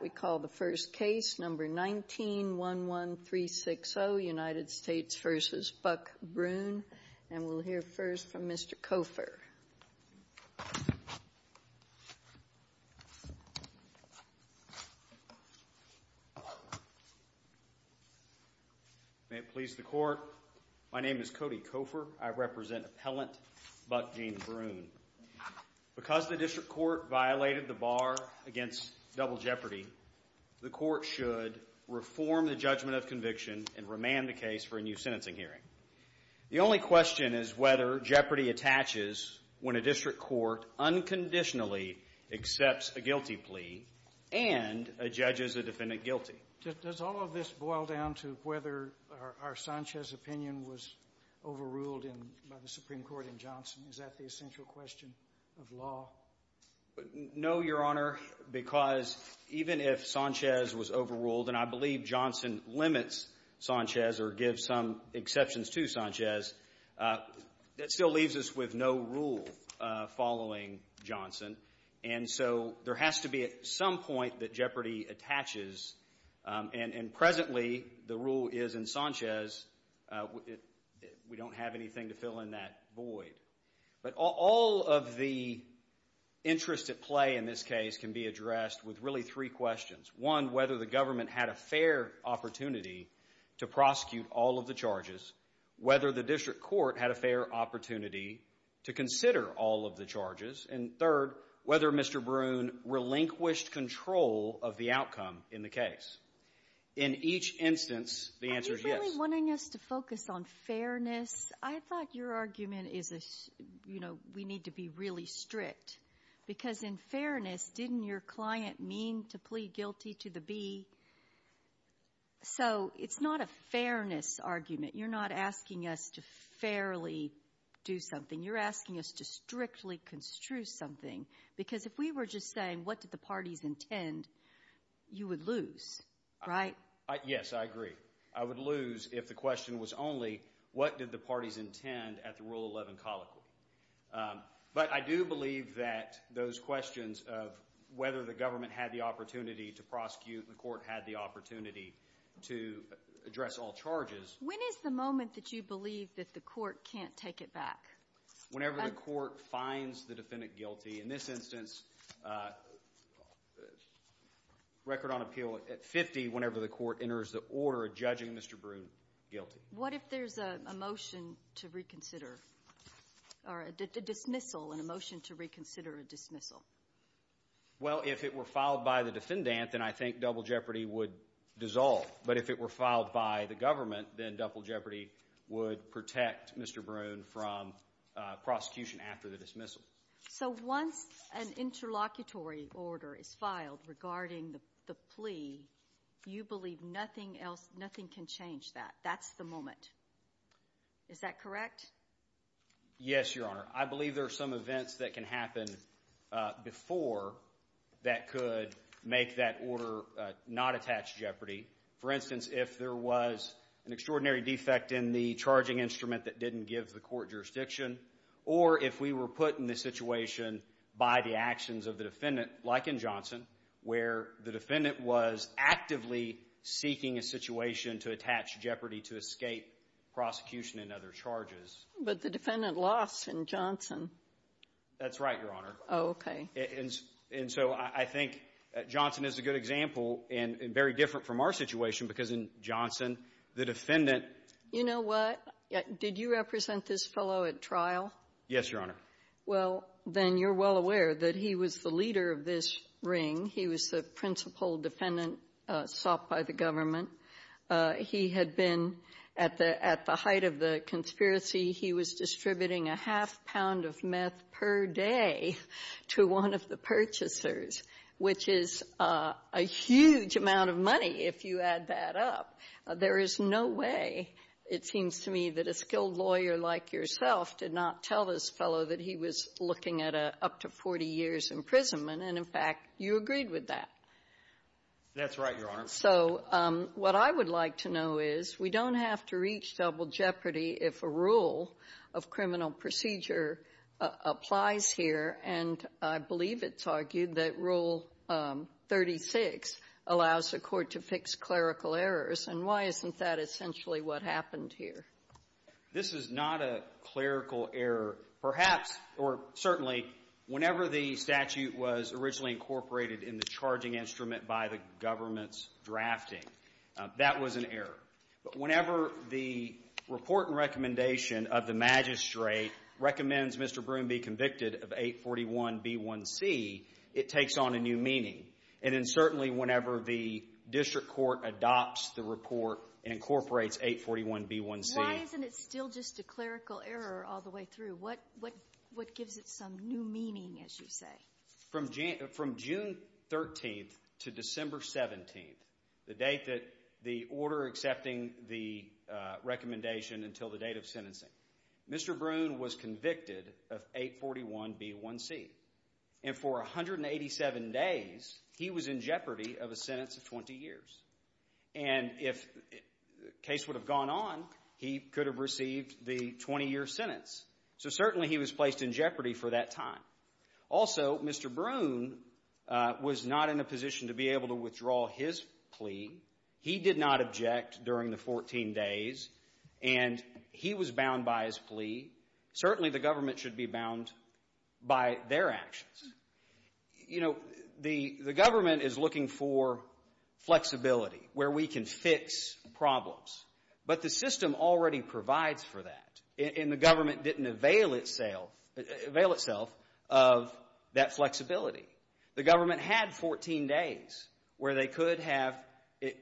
May it please the court, my name is Cody Kofor, I represent appellant Buck James Brune. Because the district court violated the bar against double jeopardy, the court should reform the judgment of conviction and remand the case for a new sentencing hearing. The only question is whether jeopardy attaches when a district court unconditionally accepts a guilty plea and a judge is a defendant guilty. Does all of this boil down to whether our Sanchez opinion was overruled by the Supreme Court in Johnson? Is that the essential question of law? No your honor, because even if Sanchez was overruled, and I believe Johnson limits Sanchez or gives some exceptions to Sanchez, that still leaves us with no rule following Johnson. And so there has to be at some point that jeopardy attaches and presently the rule is in Sanchez, we don't have anything to fill in that void. But all of the interest at play in this case can be addressed with really three questions. One, whether the government had a fair opportunity to prosecute all of the charges, whether the district court had a fair opportunity to consider all of the charges, and third, whether Mr. Brune relinquished control of the outcome in the case. In each instance, the answer is yes. Are you really wanting us to focus on fairness? I thought your argument is, you know, we need to be really strict. Because in fairness, didn't your client mean to plead guilty to the B? So it's not a fairness argument. You're not asking us to fairly do something. You're asking us to strictly construe something. Because if we were just saying, what did the parties intend, you would lose, right? Yes, I agree. I would lose if the question was only, what did the parties intend at the Rule 11 colloquy? But I do believe that those questions of whether the government had the opportunity to prosecute, the court had the opportunity to address all charges. When is the moment that you believe that the court can't take it back? Whenever the court finds the defendant guilty. In this instance, record on appeal at 50, whenever the court enters the order of judging Mr. Brune guilty. What if there's a motion to reconsider, or a dismissal, and a motion to reconsider a dismissal? Well, if it were filed by the defendant, then I think Double Jeopardy would dissolve. But if it were filed by the government, then Double Jeopardy would protect Mr. Brune from prosecution after the dismissal. So once an interlocutory order is filed regarding the plea, you believe nothing else, nothing can change that. That's the moment, is that correct? Yes, Your Honor. I believe there are some events that can happen before that could make that order not attach Jeopardy. For instance, if there was an extraordinary defect in the charging instrument that didn't give the court jurisdiction, or if we were put in this situation by the actions of the defendant, like in Johnson, where the defendant was actively seeking a situation to attach Jeopardy to escape prosecution and other charges. But the defendant lost in Johnson. That's right, Your Honor. Oh, okay. And so I think Johnson is a good example, and very different from our situation, because in Johnson, the defendant- You know what? Did you represent this fellow at trial? Yes, Your Honor. Well, then you're well aware that he was the leader of this ring. He was the principal defendant sought by the government. He had been, at the height of the conspiracy, he was distributing a half pound of meth per day to one of the purchasers, which is a huge amount of money, if you add that up. There is no way, it seems to me, that a skilled lawyer like yourself did not tell this fellow that he was looking at up to 40 years imprisonment. And in fact, you agreed with that. That's right, Your Honor. So what I would like to know is, we don't have to reach double Jeopardy if a rule of criminal procedure applies here. And I believe it's argued that Rule 36 allows the court to fix clerical errors. And why isn't that essentially what happened here? This is not a clerical error. Perhaps, or certainly, whenever the statute was originally incorporated in the charging instrument by the government's drafting, that was an error. But whenever the report and recommendation of the magistrate recommends Mr. Broom be convicted of 841B1C, it takes on a new meaning. And then certainly, whenever the district court adopts the report, incorporates 841B1C. Why isn't it still just a clerical error all the way through? What gives it some new meaning, as you say? From June 13th to December 17th, the date that the order accepting the recommendation until the date of sentencing, Mr. Broom was convicted of 841B1C. And for 187 days, he was in Jeopardy of a sentence of 20 years. And if the case would have gone on, he could have received the 20-year sentence. So certainly, he was placed in Jeopardy for that time. Also, Mr. Broom was not in a position to be able to withdraw his plea. He did not object during the 14 days. And he was bound by his plea. Certainly, the government should be bound by their actions. You know, the government is looking for flexibility, where we can fix problems. But the system already provides for that. And the government didn't avail itself of that flexibility. The government had 14 days where they could have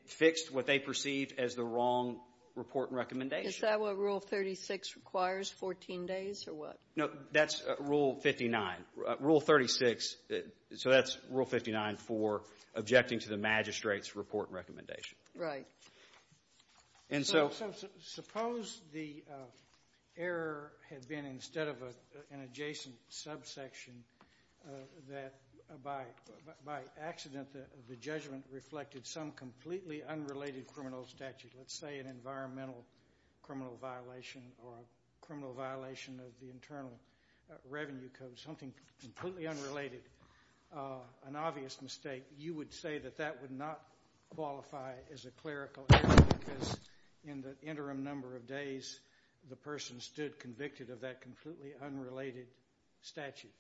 fixed what they perceived as the wrong report and recommendation. Is that what Rule 36 requires, 14 days or what? No, that's Rule 59. Rule 36, so that's Rule 59 for objecting to the magistrate's report and recommendation. Right. And so suppose the error had been instead of an adjacent subsection, that by accident, the judgment reflected some completely unrelated criminal statute. Let's say an environmental criminal violation or a criminal violation of the Internal Revenue Code, something completely unrelated, an obvious mistake. You would say that that would not qualify as a clerical error because in the interim number of days, the person stood convicted of that completely unrelated statute.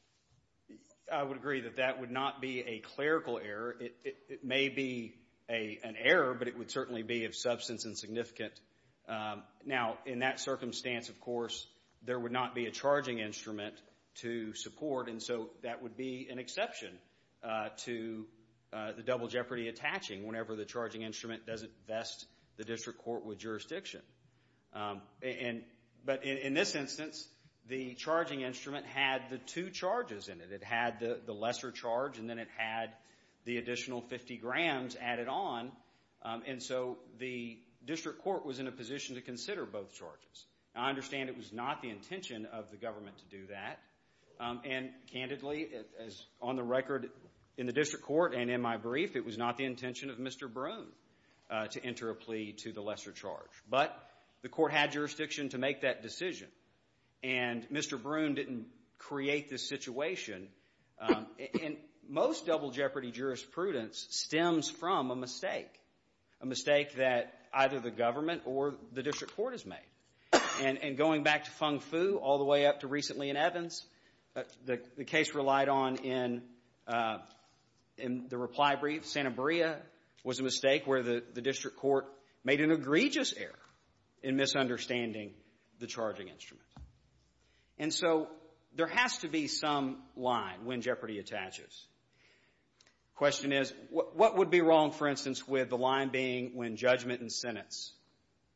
I would agree that that would not be a clerical error. It may be an error, but it would certainly be of substance and significant. Now, in that circumstance, of course, there would not be a charging instrument to support. And so that would be an exception to the double jeopardy attaching whenever the charging instrument doesn't vest the district court with jurisdiction. But in this instance, the charging instrument had the two charges in it. It had the lesser charge and then it had the additional 50 grams added on. And so the district court was in a position to consider both charges. I understand it was not the intention of the government to do that. And candidly, as on the record in the district court and in my brief, it was not the intention of Mr. Broon to enter a plea to the lesser charge. But the court had jurisdiction to make that decision. And Mr. Broon didn't create this situation. And most double jeopardy jurisprudence stems from a mistake, a mistake that either the government or the district court has made. And going back to Feng Fu all the way up to recently in Evans, the case relied on in the reply brief, Santa Maria was a mistake where the district court made an egregious error in misunderstanding the charging instrument. And so there has to be some line when jeopardy attaches. Question is, what would be wrong, for instance, with the line being when judgment and sentence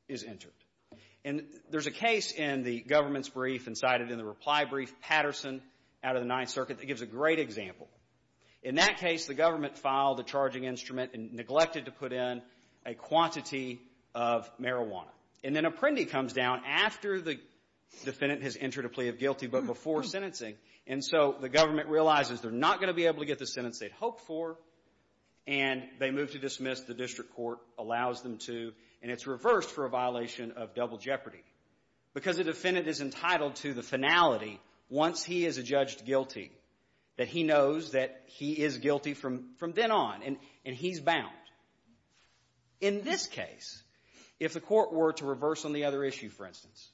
is entered? And there's a case in the government's brief and cited in the reply brief, Patterson, out of the Ninth Circuit, that gives a great example. In that case, the government filed a charging instrument and neglected to put in a quantity of marijuana. And then Apprendi comes down after the defendant has entered a plea of guilty, but before sentencing. And so the government realizes they're not going to be able to get the sentence they'd hoped for. And they move to dismiss. The district court allows them to. And it's reversed for a violation of double jeopardy. Because the defendant is entitled to the finality once he is adjudged guilty, that he knows that he is guilty from then on, and he's bound. In this case, if the court were to reverse on the other issue, for instance,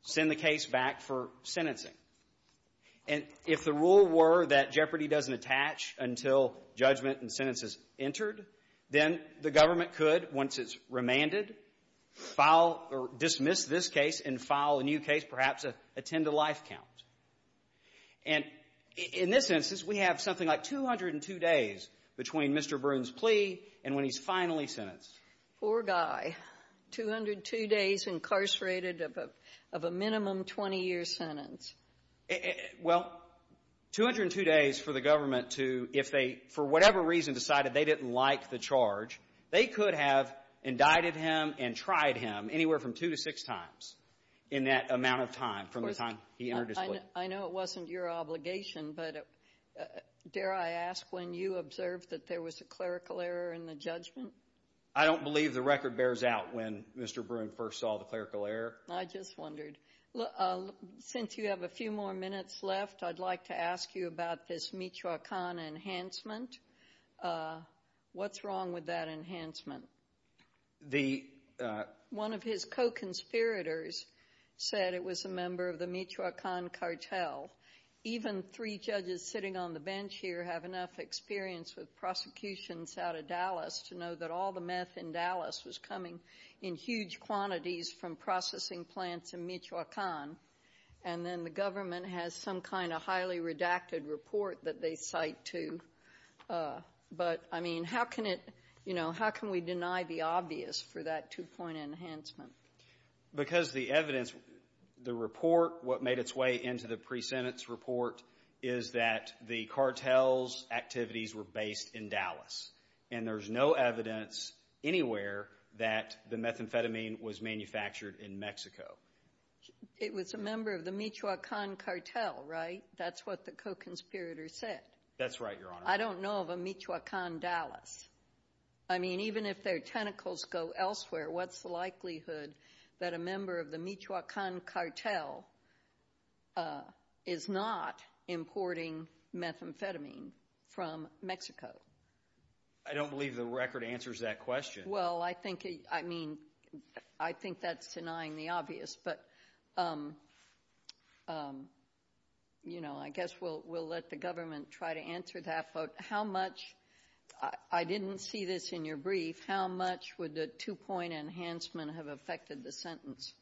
send the case back for sentencing. And if the rule were that jeopardy doesn't attach until judgment and sentence is entered, then the government could, once it's remanded, dismiss this case and file a new case, perhaps attend a life count. And in this instance, we have something like 202 days between Mr. Broon's plea and when he's finally sentenced. Poor guy. 202 days incarcerated of a minimum 20-year sentence. Well, 202 days for the government to, if they, for whatever reason, decided they didn't like the charge, they could have indicted him and tried him anywhere from two to six times in that amount of time from the time he entered his plea. I know it wasn't your obligation, but dare I ask, when you observed that there was a clerical error in the judgment? I don't believe the record bears out when Mr. Broon first saw the clerical error. I just wondered. Since you have a few more minutes left, I'd like to ask you about this Michoacan enhancement. What's wrong with that enhancement? One of his co-conspirators said it was a member of the Michoacan cartel. Even three judges sitting on the bench here have enough experience with prosecutions out of Dallas to know that all the meth in Dallas was coming in huge quantities from processing plants in Michoacan, and then the government has some kind of highly redacted report that they cite, too. But I mean, how can we deny the obvious for that two-point enhancement? Because the evidence, the report, what made its way into the pre-sentence report is that the cartel's activities were based in Dallas, and there's no evidence anywhere that the methamphetamine was manufactured in Mexico. It was a member of the Michoacan cartel, right? That's what the co-conspirator said. That's right, Your Honor. I don't know of a Michoacan Dallas. I mean, even if their tentacles go elsewhere, what's the likelihood that a member of the Michoacan cartel is not importing methamphetamine from Mexico? I don't believe the record answers that question. Well, I think that's denying the obvious, but I guess we'll let the government try to answer that. How much, I didn't see this in your brief, how much would the two-point enhancement have affected the sentence?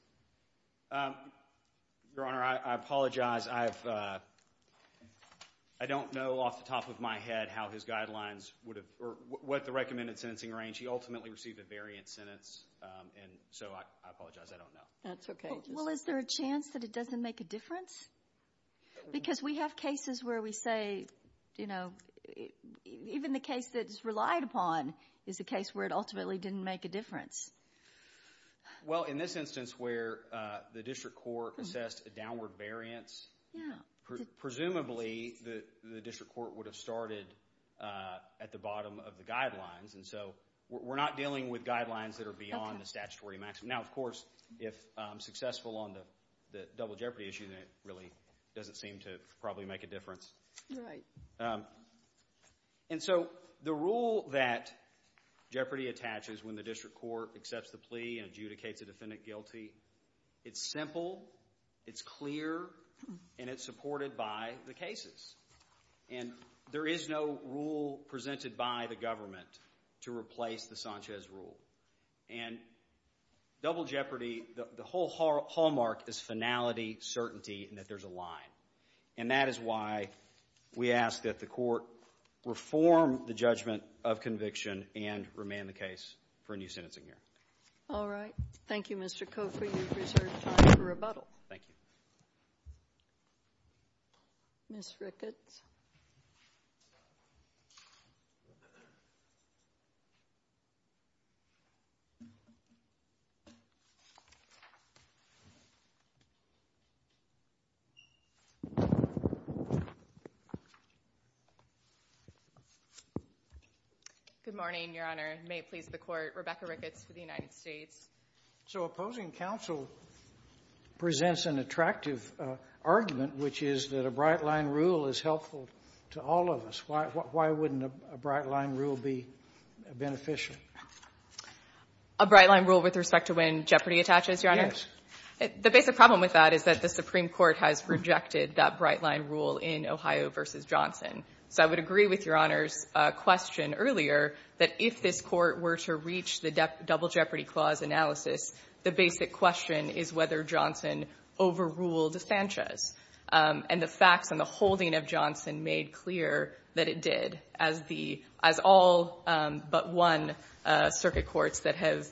Your Honor, I apologize. I don't know off the top of my head how his guidelines would have, or what the recommended sentencing range. He ultimately received a variant sentence, and so I apologize, I don't know. That's okay. Well, is there a chance that it doesn't make a difference? Because we have cases where we say, you know, even the case that's relied upon is a case where it ultimately didn't make a difference. Well, in this instance where the district court assessed a downward variance, presumably the district court would have started at the bottom of the guidelines, and so we're not dealing with guidelines that are beyond the statutory maximum. Now, of course, if successful on the double jeopardy issue, then it really doesn't seem to probably make a difference. And so the rule that jeopardy attaches when the district court accepts the plea and adjudicates to defendant guilty, it's simple, it's clear, and it's supported by the cases. And there is no rule presented by the government to replace the Sanchez rule. And double jeopardy, the whole hallmark is finality, certainty, and that there's a line. And that is why we ask that the court reform the judgment of conviction and remand the case for a new sentencing year. All right. Thank you, Mr. Kofer. You've reserved time for rebuttal. Thank you. Ms. Ricketts. Good morning, Your Honor. May it please the Court, Rebecca Ricketts for the United States. So opposing counsel presents an attractive argument, which is that a bright-line rule is helpful to all of us. Why wouldn't a bright-line rule be beneficial? A bright-line rule with respect to when jeopardy attaches, Your Honor? Yes. The basic problem with that is that the Supreme Court has rejected that bright-line rule in Ohio v. Johnson. So I would agree with Your Honor's question earlier that if this Court were to reach the double jeopardy clause analysis, the basic question is whether Johnson overruled Sanchez. And the facts and the holding of Johnson made clear that it did, as the — as all but one circuit courts that have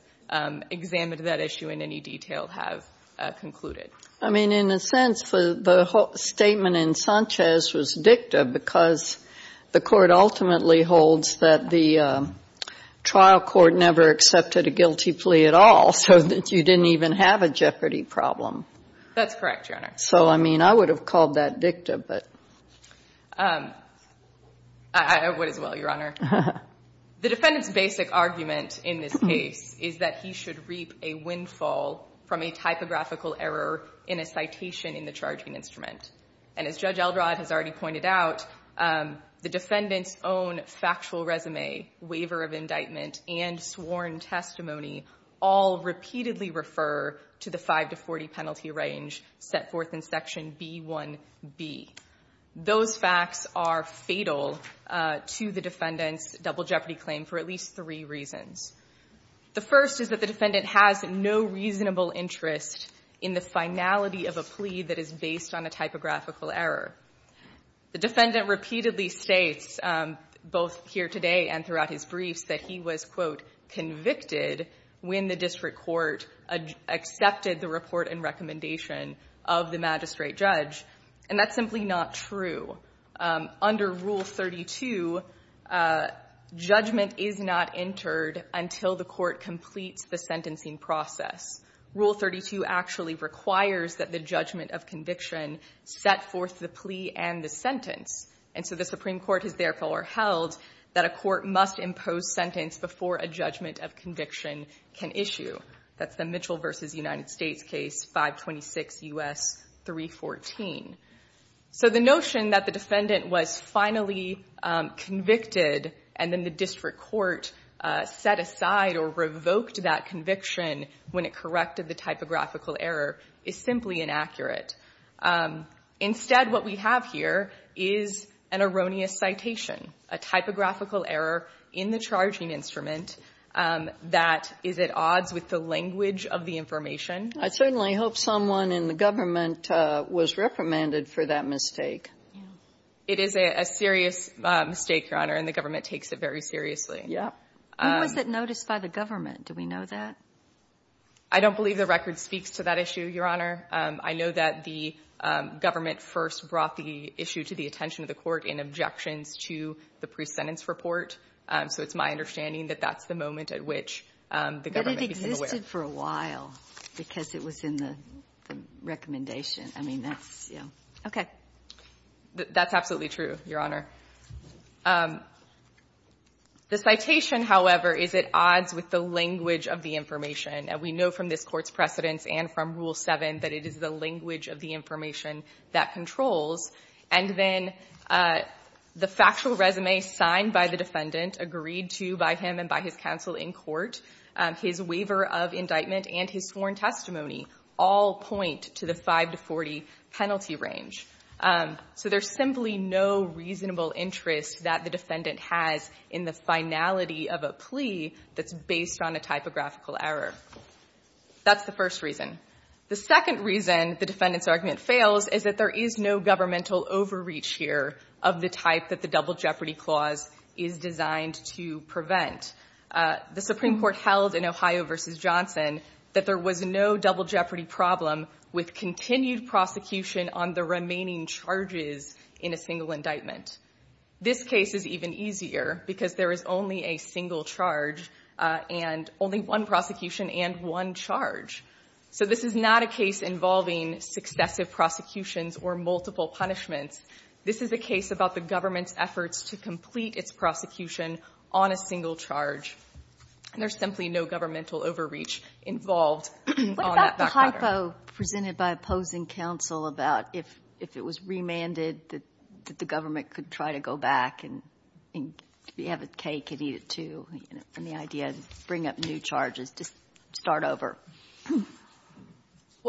examined that issue in any detail have concluded. I mean, in a sense, the whole statement in Sanchez was dicta because the Court ultimately holds that the trial court never accepted a guilty plea at all, so that you didn't even have a jeopardy problem. That's correct, Your Honor. So, I mean, I would have called that dicta, but — I would as well, Your Honor. The defendant's basic argument in this case is that he should reap a windfall from a typographical error in a citation in the charging instrument. And as Judge Eldrod has already pointed out, the defendant's own factual resume, waiver of indictment, and sworn testimony all repeatedly refer to the 5 to 40 penalty range set forth in Section B1b. Those facts are fatal to the defendant's double jeopardy claim for at least three reasons. The first is that the defendant has no reasonable interest in the finality of a plea that is based on a typographical error. The defendant repeatedly states, both here today and throughout his briefs, that he was, quote, convicted when the district court accepted the report and recommendation of the magistrate judge, and that's simply not true. Under Rule 32, judgment is not entered until the court completes the sentencing process. Rule 32 actually requires that the judgment of conviction set forth the plea and the sentence. And so the Supreme Court has therefore held that a court must impose sentence before a judgment of conviction can issue. That's the Mitchell v. United States case, 526 U.S. 314. So the notion that the defendant was finally convicted and then the district court set aside or revoked that conviction when it corrected the typographical error is simply inaccurate. Instead, what we have here is an erroneous citation, a typographical error in the charging instrument that is at odds with the language of the information. I certainly hope someone in the government was reprimanded for that mistake. Yeah. It is a serious mistake, Your Honor, and the government takes it very seriously. Yeah. When was it noticed by the government? Do we know that? I don't believe the record speaks to that issue, Your Honor. I know that the government first brought the issue to the attention of the court in objections to the pre-sentence report, so it's my understanding that that's the moment at which the government became aware. It lasted for a while because it was in the recommendation. I mean, that's, you know. Okay. That's absolutely true, Your Honor. The citation, however, is at odds with the language of the information, and we know from this Court's precedents and from Rule 7 that it is the language of the information that controls. And then the factual resume signed by the defendant, agreed to by him and by his counsel in court, his waiver of indictment and his sworn testimony all point to the 5 to 40 penalty range. So there's simply no reasonable interest that the defendant has in the finality of a plea that's based on a typographical error. That's the first reason. The second reason the defendant's argument fails is that there is no governmental overreach here of the type that the double jeopardy clause is designed to prevent. The Supreme Court held in Ohio v. Johnson that there was no double jeopardy problem with continued prosecution on the remaining charges in a single indictment. This case is even easier because there is only a single charge and only one prosecution and one charge. So this is not a case involving successive prosecutions or multiple punishments. This is a case about the government's efforts to complete its prosecution on a single charge. And there's simply no governmental overreach involved on that background. What about the hypo presented by opposing counsel about if it was remanded that the government could try to go back and have a cake and eat it, too, and the idea to bring up new charges to start over?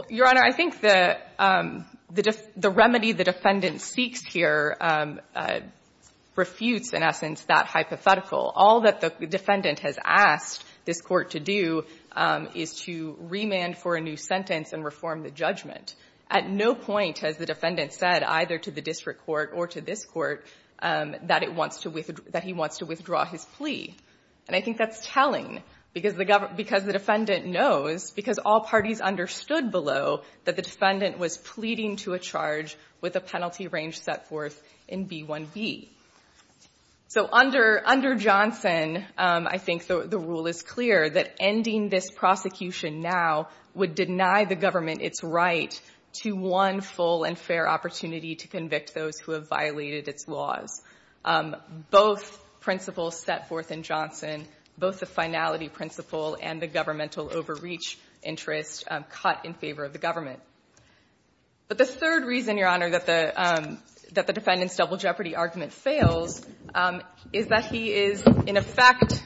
Your Honor, I think the remedy the defendant seeks here refutes, in essence, that hypothetical. All that the defendant has asked this Court to do is to remand for a new sentence and reform the judgment. At no point has the defendant said, either to the district court or to this court, that he wants to withdraw his plea. And I think that's telling, because the defendant knows, because all parties understood below, that the defendant was pleading to a charge with a penalty range set forth in B-1B. So under Johnson, I think the rule is clear that ending this prosecution now would deny the government its right to one full and fair opportunity to convict those who have violated its laws. Both principles set forth in Johnson, both the finality principle and the governmental overreach interest, cut in favor of the government. But the third reason, Your Honor, that the defendant's double jeopardy argument fails is that he is, in effect,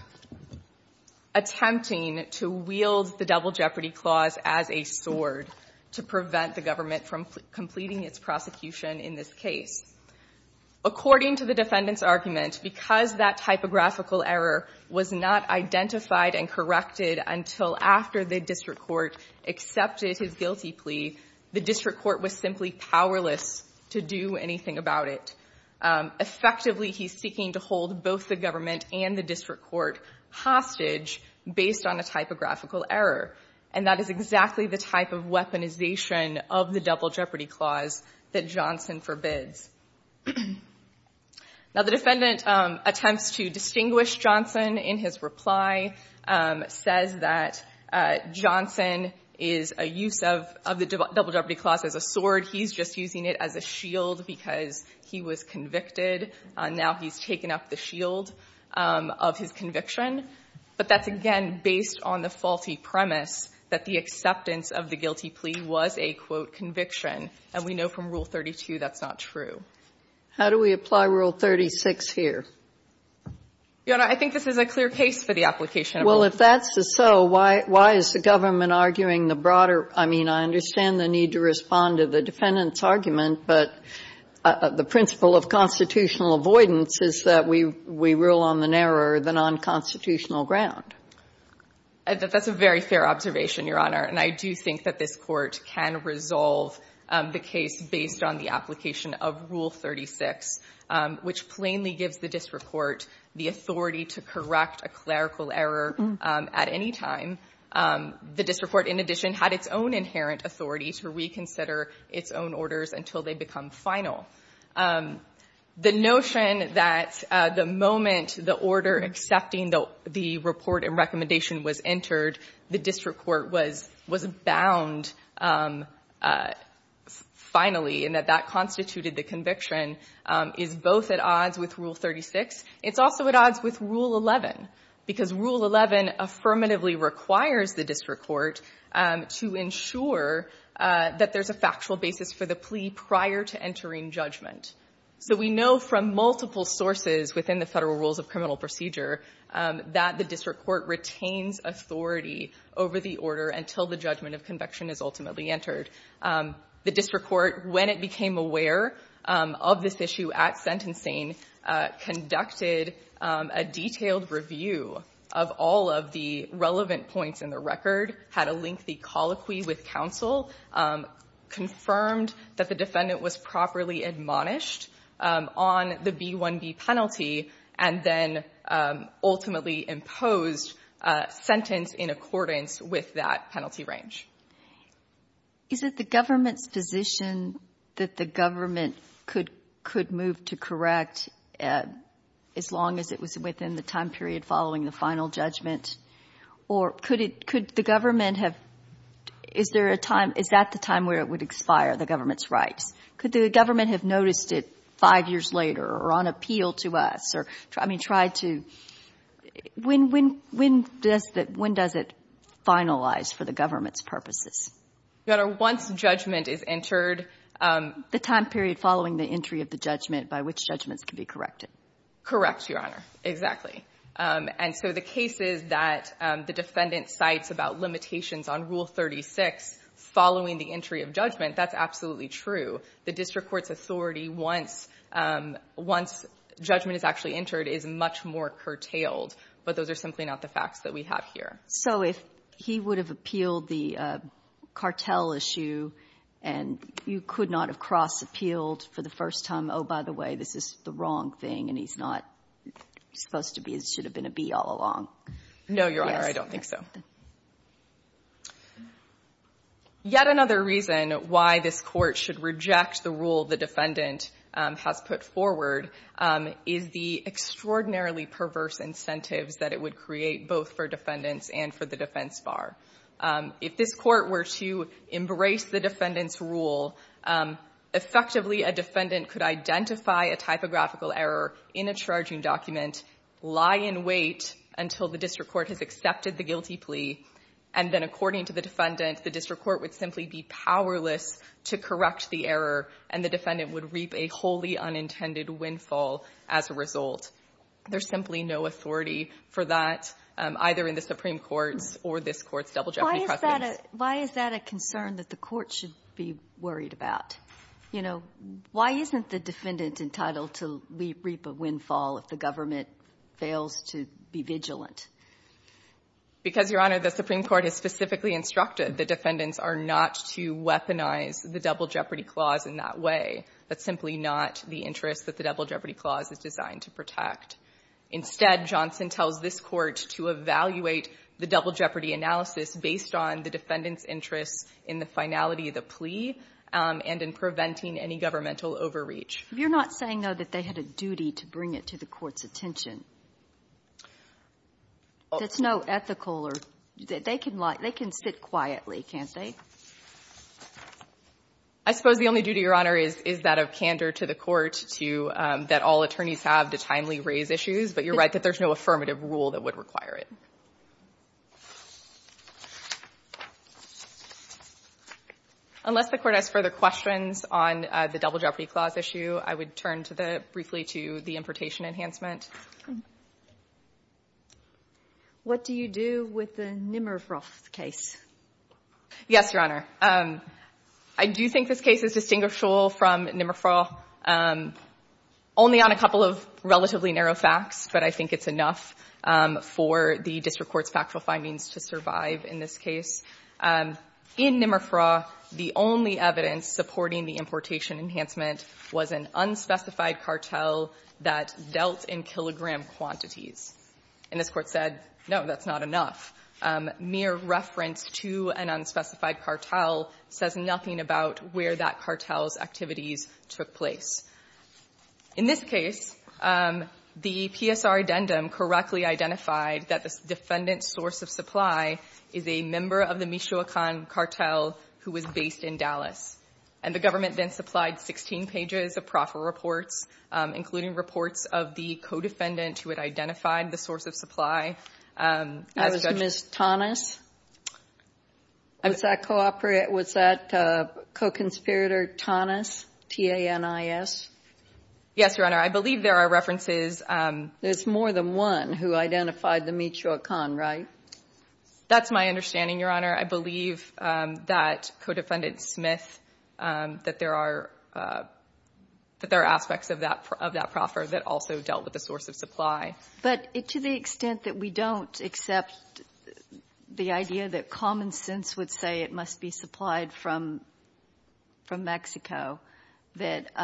attempting to wield the double jeopardy clause as a sword to prevent the government from completing its prosecution in this case. According to the defendant's argument, because that typographical error was not identified and corrected until after the district court accepted his guilty plea, the district court was simply powerless to do anything about it. Effectively, he's seeking to hold both the government and the district court hostage based on a typographical error. And that is exactly the type of weaponization of the double jeopardy clause that Johnson forbids. Now, the defendant attempts to distinguish Johnson in his reply, says that Johnson is a use of the double jeopardy clause as a sword. He's just using it as a shield because he was convicted. Now he's taken up the shield of his conviction. But that's, again, based on the faulty premise that the acceptance of the guilty plea was a, quote, conviction. And we know from Rule 32 that's not true. Sotomayor, how do we apply Rule 36 here? Your Honor, I think this is a clear case for the application of both. Well, if that's so, why is the government arguing the broader – I mean, I understand the need to respond to the defendant's argument, but the principle of constitutional avoidance is that we rule on the narrower than unconstitutional ground. That's a very fair observation, Your Honor. And I do think that this Court can resolve the case based on the application of Rule 36, which plainly gives the district court the authority to correct a clerical error at any time. The district court, in addition, had its own inherent authority to reconsider its own orders until they become final. The notion that the moment the order accepting the report and recommendation was entered, the district court was bound finally, and that that constituted the conviction, is both at odds with Rule 36. It's also at odds with Rule 11 because Rule 11 affirmatively requires that the district court to ensure that there's a factual basis for the plea prior to entering judgment. So we know from multiple sources within the Federal Rules of Criminal Procedure that the district court retains authority over the order until the judgment of conviction is ultimately entered. The district court, when it became aware of this issue at sentencing, conducted a detailed review of all of the relevant points in the record, had a lengthy colloquy with counsel, confirmed that the defendant was properly admonished on the B-1B penalty, and then ultimately imposed a sentence in accordance with that penalty range. Is it the government's position that the government could move to correct as long as it was within the time period following the final judgment, or could the government have — is there a time — is that the time where it would expire, the government's rights? Could the government have noticed it five years later or on appeal to us or, I mean, tried to — when does it finalize for the government's purposes? Your Honor, once judgment is entered — The time period following the entry of the judgment by which judgments can be corrected. Correct, Your Honor, exactly. And so the cases that the defendant cites about limitations on Rule 36 following the entry of judgment, that's absolutely true. The district court's authority once — once judgment is actually entered is much more curtailed, but those are simply not the facts that we have here. So if he would have appealed the cartel issue and you could not have cross-appealed for the first time, oh, by the way, this is the wrong thing and he's not supposed to be — should have been a B all along. No, Your Honor, I don't think so. Yet another reason why this Court should reject the rule the defendant has put forward is the extraordinarily perverse incentives that it would create both for defendants and for the defense bar. If this Court were to embrace the defendant's rule, effectively a defendant could identify a typographical error in a charging document, lie in wait until the district court has accepted the guilty plea, and then according to the defendant, the district court would simply be powerless to correct the error and the defendant would reap a wholly unintended windfall as a result. There's simply no authority for that, either in the Supreme Court's or this Court's double jeopardy precedence. Why is that a — why is that a concern that the Court should be worried about? You know, why isn't the defendant entitled to reap a windfall if the government fails to be vigilant? Because, Your Honor, the Supreme Court has specifically instructed that defendants are not to weaponize the double jeopardy clause in that way. That's simply not the interest that the double jeopardy clause is designed to protect. Instead, Johnson tells this Court to evaluate the double jeopardy analysis based on the defendant's interest in the finality of the plea and in preventing any governmental overreach. You're not saying, though, that they had a duty to bring it to the Court's attention? That's no ethical or — they can sit quietly, can't they? I suppose the only duty, Your Honor, is that of candor to the Court to — that all attorneys have to timely raise issues. But you're right that there's no affirmative rule that would require it. Unless the Court has further questions on the double jeopardy clause issue, I would turn to the — briefly to the importation enhancement. What do you do with the Nimrov case? Yes, Your Honor. I do think this case is distinguishable from Nimrov. Only on a couple of relatively narrow facts, but I think it's enough for the district court's factual findings to survive in this case. In Nimrov, the only evidence supporting the importation enhancement was an unspecified cartel that dealt in kilogram quantities. And this Court said, no, that's not enough. Mere reference to an unspecified cartel says nothing about where that cartel's activities took place. In this case, the PSR addendum correctly identified that the defendant's source of supply is a member of the Michoacan cartel who was based in Dallas. And the government then supplied 16 pages of proffer reports, including reports of the co-defendant who had identified the source of supply. That was Ms. Tonnes? Was that co-operator — was that co-conspirator Tonnes, T-A-N-I-S? Yes, Your Honor. I believe there are references — There's more than one who identified the Michoacan, right? That's my understanding, Your Honor. I believe that co-defendant Smith — that there are aspects of that proffer that also dealt with the source of supply. But to the extent that we don't accept the idea that common sense would say it must be supplied from Mexico, that —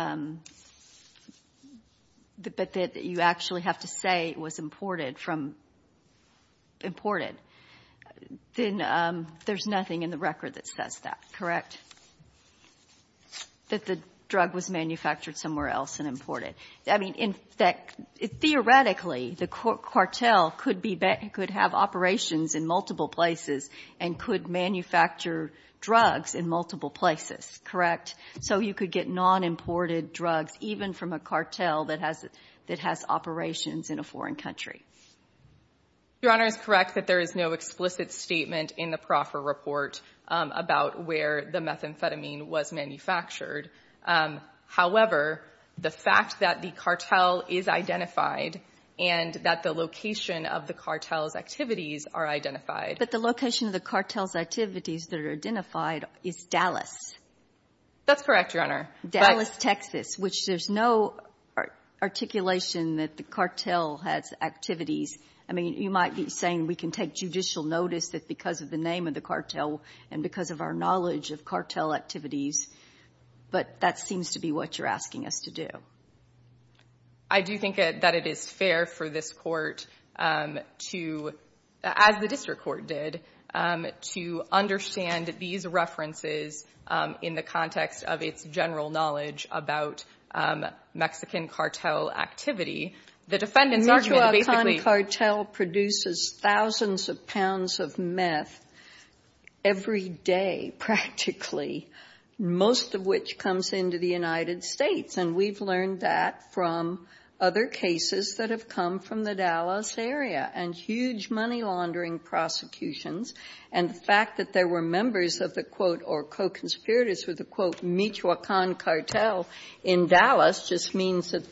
but that you actually have to say it was imported from — imported, then there's nothing in the record that says that, correct? That the drug was manufactured somewhere else and imported. I mean, in fact, theoretically, the cartel could have operations in multiple places and could manufacture drugs in multiple places, correct? So you could get non-imported drugs even from a cartel that has operations in a foreign country. Your Honor is correct that there is no explicit statement in the proffer report about where the methamphetamine was manufactured. However, the fact that the cartel is identified and that the location of the cartel's activities are identified — But the location of the cartel's activities that are identified is Dallas. That's correct, Your Honor. Dallas, Texas, which there's no articulation that the cartel has activities. I mean, you might be saying we can take judicial notice that because of the name of the cartel and because of our knowledge of cartel activities, but that seems to be what you're asking us to do. I do think that it is fair for this Court to — as the district court did, to understand these references in the context of its general knowledge about Mexican cartel activity. The defendant's argument basically — thousands of pounds of meth every day, practically, most of which comes into the United States. And we've learned that from other cases that have come from the Dallas area and huge money-laundering prosecutions. And the fact that there were members of the, quote, or co-conspirators with the, quote, Michoacan cartel in Dallas just means that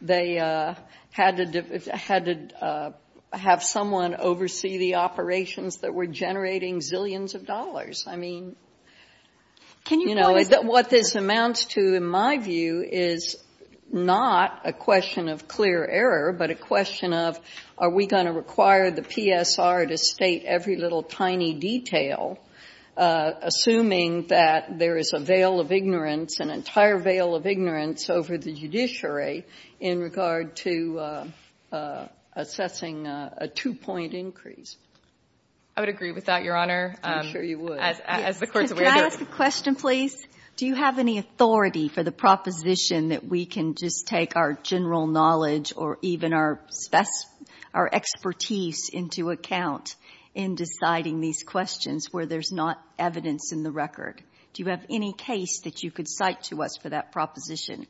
they had to — had to oversee the operations that were generating zillions of dollars. I mean, you know, what this amounts to, in my view, is not a question of clear error, but a question of are we going to require the PSR to state every little tiny detail, assuming that there is a veil of ignorance, an entire veil of ignorance over the judiciary in regard to assessing a two-point increase. I would agree with that, Your Honor. I'm sure you would. As the Court's aware of. Can I ask a question, please? Do you have any authority for the proposition that we can just take our general knowledge or even our expertise into account in deciding these questions where there's not evidence in the record? Do you have any case that you could cite to us for that proposition?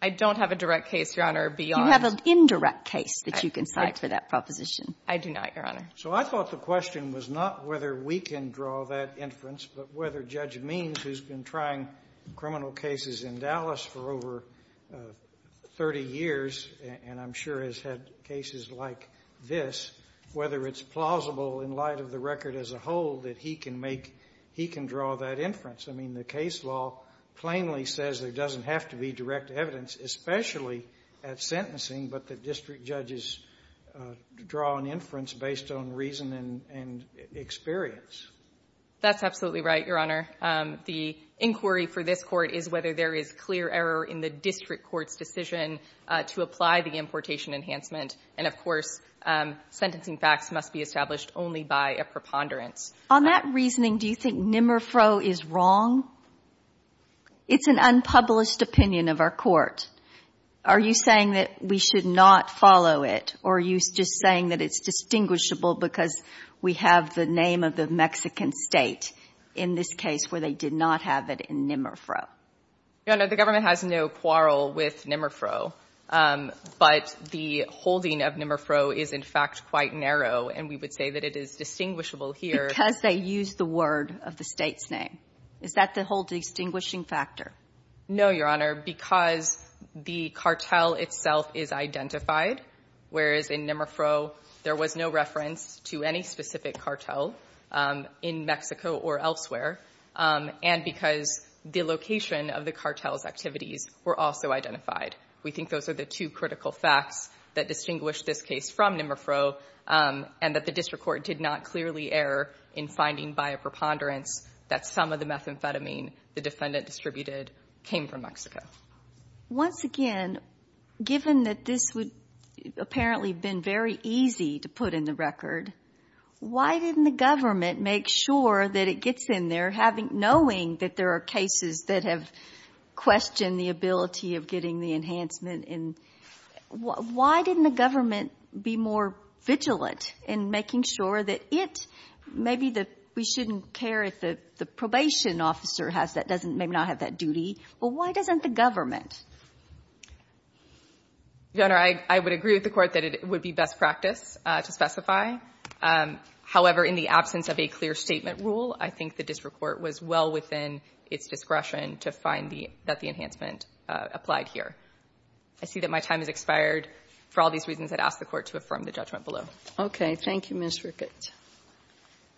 I don't have a direct case, Your Honor, beyond — You have an indirect case that you can cite for that proposition. I do not, Your Honor. So I thought the question was not whether we can draw that inference, but whether Judge Means, who's been trying criminal cases in Dallas for over 30 years and I'm sure has had cases like this, whether it's plausible in light of the record as a whole that he can make — he can draw that inference. I mean, the case law plainly says there doesn't have to be direct evidence, especially at sentencing, but that district judges draw an inference based on reason and experience. That's absolutely right, Your Honor. The inquiry for this Court is whether there is clear error in the district court's decision to apply the importation enhancement. And, of course, sentencing facts must be established only by a preponderance. On that reasoning, do you think NIMRFRO is wrong? It's an unpublished opinion of our Court. Are you saying that we should not follow it, or are you just saying that it's distinguishable because we have the name of the Mexican State in this case where they did not have it in NIMRFRO? Your Honor, the government has no quarrel with NIMRFRO, but the holding of NIMRFRO is, in fact, quite narrow, and we would say that it is distinguishable here. Because they used the word of the State's name. Is that the whole distinguishing factor? No, Your Honor, because the cartel itself is identified, whereas in NIMRFRO there was no reference to any specific cartel in Mexico or elsewhere, and because the location of the cartel's activities were also identified. We think those are the two critical facts that distinguish this case from NIMRFRO, and that the District Court did not clearly err in finding by a preponderance that some of the methamphetamine the defendant distributed came from Mexico. Once again, given that this would apparently have been very easy to put in the record, why didn't the government make sure that it gets in there knowing that there are I question the ability of getting the enhancement in. Why didn't the government be more vigilant in making sure that it, maybe that we shouldn't care if the probation officer has that, doesn't, may not have that duty, but why doesn't the government? Your Honor, I would agree with the Court that it would be best practice to specify. However, in the absence of a clear statement rule, I think the District Court was well within its discretion to find the, that the enhancement applied here. I see that my time has expired. For all these reasons, I'd ask the Court to affirm the judgment below. Okay. Thank you, Ms. Rickett.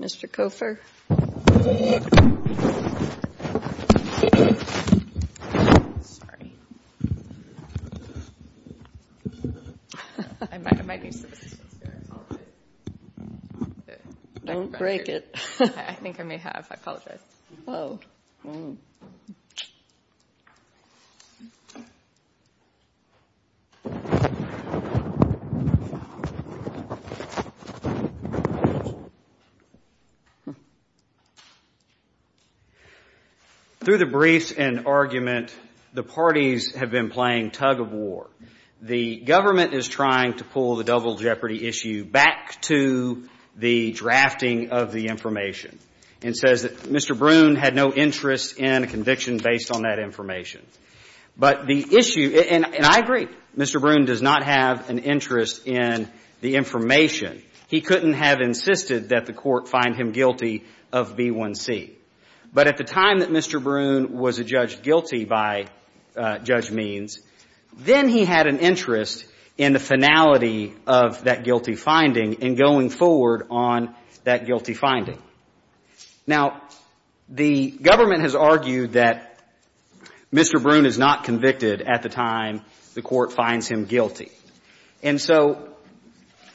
Mr. Koffer. Sorry. I might need some. Don't break it. I think I may have. I apologize. Hello. Through the briefs and argument, the parties have been playing tug of war. The government is trying to pull the double jeopardy issue back to the drafting of the Mr. Broun had no interest in a conviction based on that information. But the issue, and I agree, Mr. Broun does not have an interest in the information. He couldn't have insisted that the Court find him guilty of B1C. But at the time that Mr. Broun was judged guilty by Judge Means, then he had an interest in the finality of that guilty finding and going forward on that guilty finding. Now, the government has argued that Mr. Broun is not convicted at the time the Court finds him guilty. And so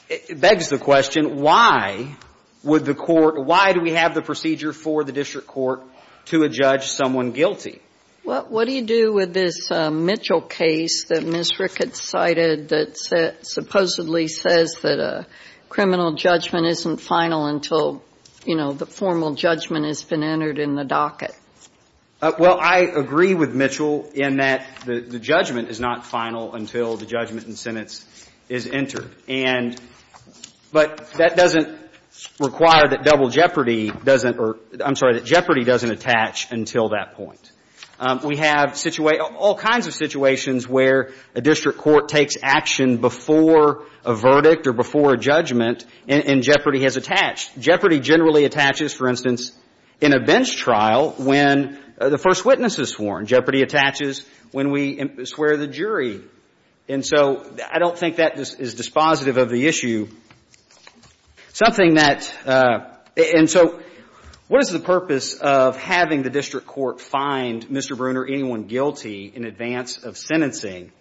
it begs the question, why would the Court, why do we have the procedure for the district court to adjudge someone guilty? Well, what do you do with this Mitchell case that Ms. Rickett cited that supposedly says that a criminal judgment isn't final until, you know, the formal judgment has been entered in the docket? Well, I agree with Mitchell in that the judgment is not final until the judgment and sentence is entered. And but that doesn't require that double jeopardy doesn't, or I'm sorry, that jeopardy doesn't attach until that point. We have all kinds of situations where a district court takes action before a verdict or before a judgment, and jeopardy has attached. Jeopardy generally attaches, for instance, in a bench trial when the first witness is sworn. Jeopardy attaches when we swear the jury. And so I don't think that is dispositive of the issue. Something that, and so what is the purpose of having the district court find Mr. Broon or anyone guilty in advance of sentencing?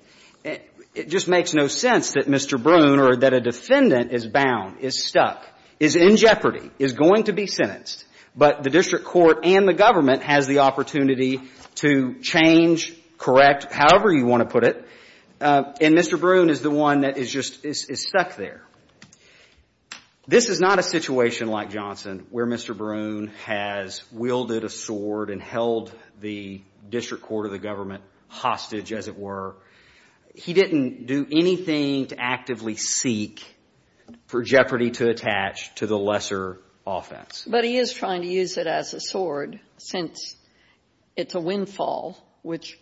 It just makes no sense that Mr. Broon or that a defendant is bound, is stuck, is in jeopardy, is going to be sentenced, but the district court and the government has the opportunity to change, correct, however you want to put it, and Mr. Broon is the one that is just, is stuck there. This is not a situation like Johnson where Mr. Broon has wielded a sword and held the district court or the government hostage, as it were. He didn't do anything to actively seek for jeopardy to attach to the lesser offense. But he is trying to use it as a sword since it's a windfall, which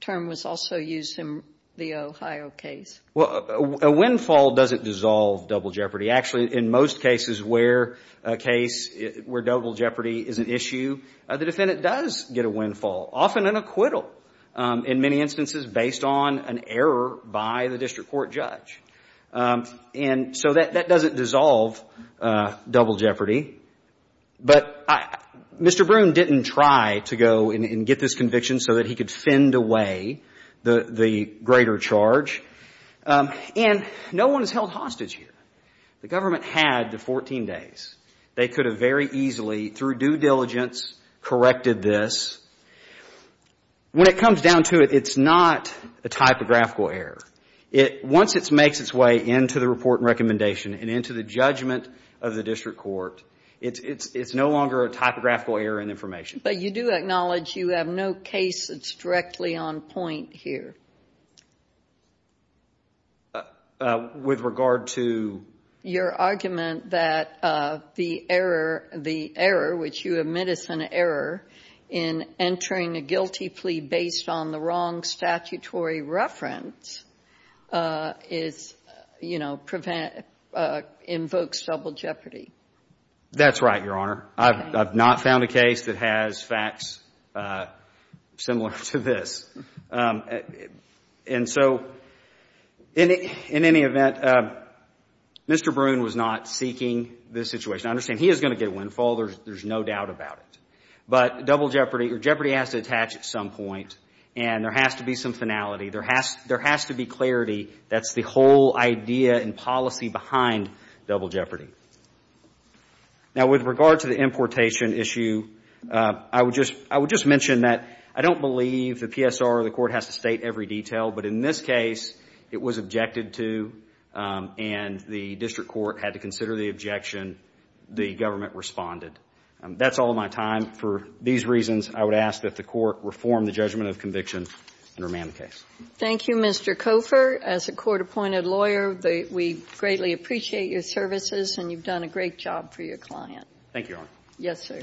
term was also used in the Ohio case. Well, a windfall doesn't dissolve double jeopardy. Actually, in most cases where a case where double jeopardy is an issue, the defendant does get a windfall, often an acquittal in many instances based on an error by the district court judge. And so that doesn't dissolve double jeopardy. But Mr. Broon didn't try to go and get this conviction so that he could fend away the greater charge. And no one is held hostage here. The government had the 14 days. They could have very easily, through due diligence, corrected this. When it comes down to it, it's not a typographical error. Once it makes its way into the report and recommendation and into the judgment of the district court, it's no longer a typographical error in information. But you do acknowledge you have no case that's directly on point here? With regard to? Your argument that the error, which you admit is an error, in entering a guilty plea based on the wrong statutory reference is, you know, invokes double jeopardy. That's right, Your Honor. I've not found a case that has facts similar to this. And so in any event, Mr. Broon was not seeking this situation. I understand he is going to get a windfall. There's no doubt about it. But double jeopardy, or jeopardy has to attach at some point. And there has to be some finality. There has to be clarity. That's the whole idea and policy behind double jeopardy. Now, with regard to the importation issue, I would just mention that I don't believe the PSR or the court has to state every detail. But in this case, it was objected to. And the district court had to consider the objection. The government responded. That's all of my time. For these reasons, I would ask that the court reform the judgment of conviction and remand the case. Thank you, Mr. Cofer. As a court-appointed lawyer, we greatly appreciate your services. And you've done a great job for your client. Thank you, Your Honor. Yes, sir.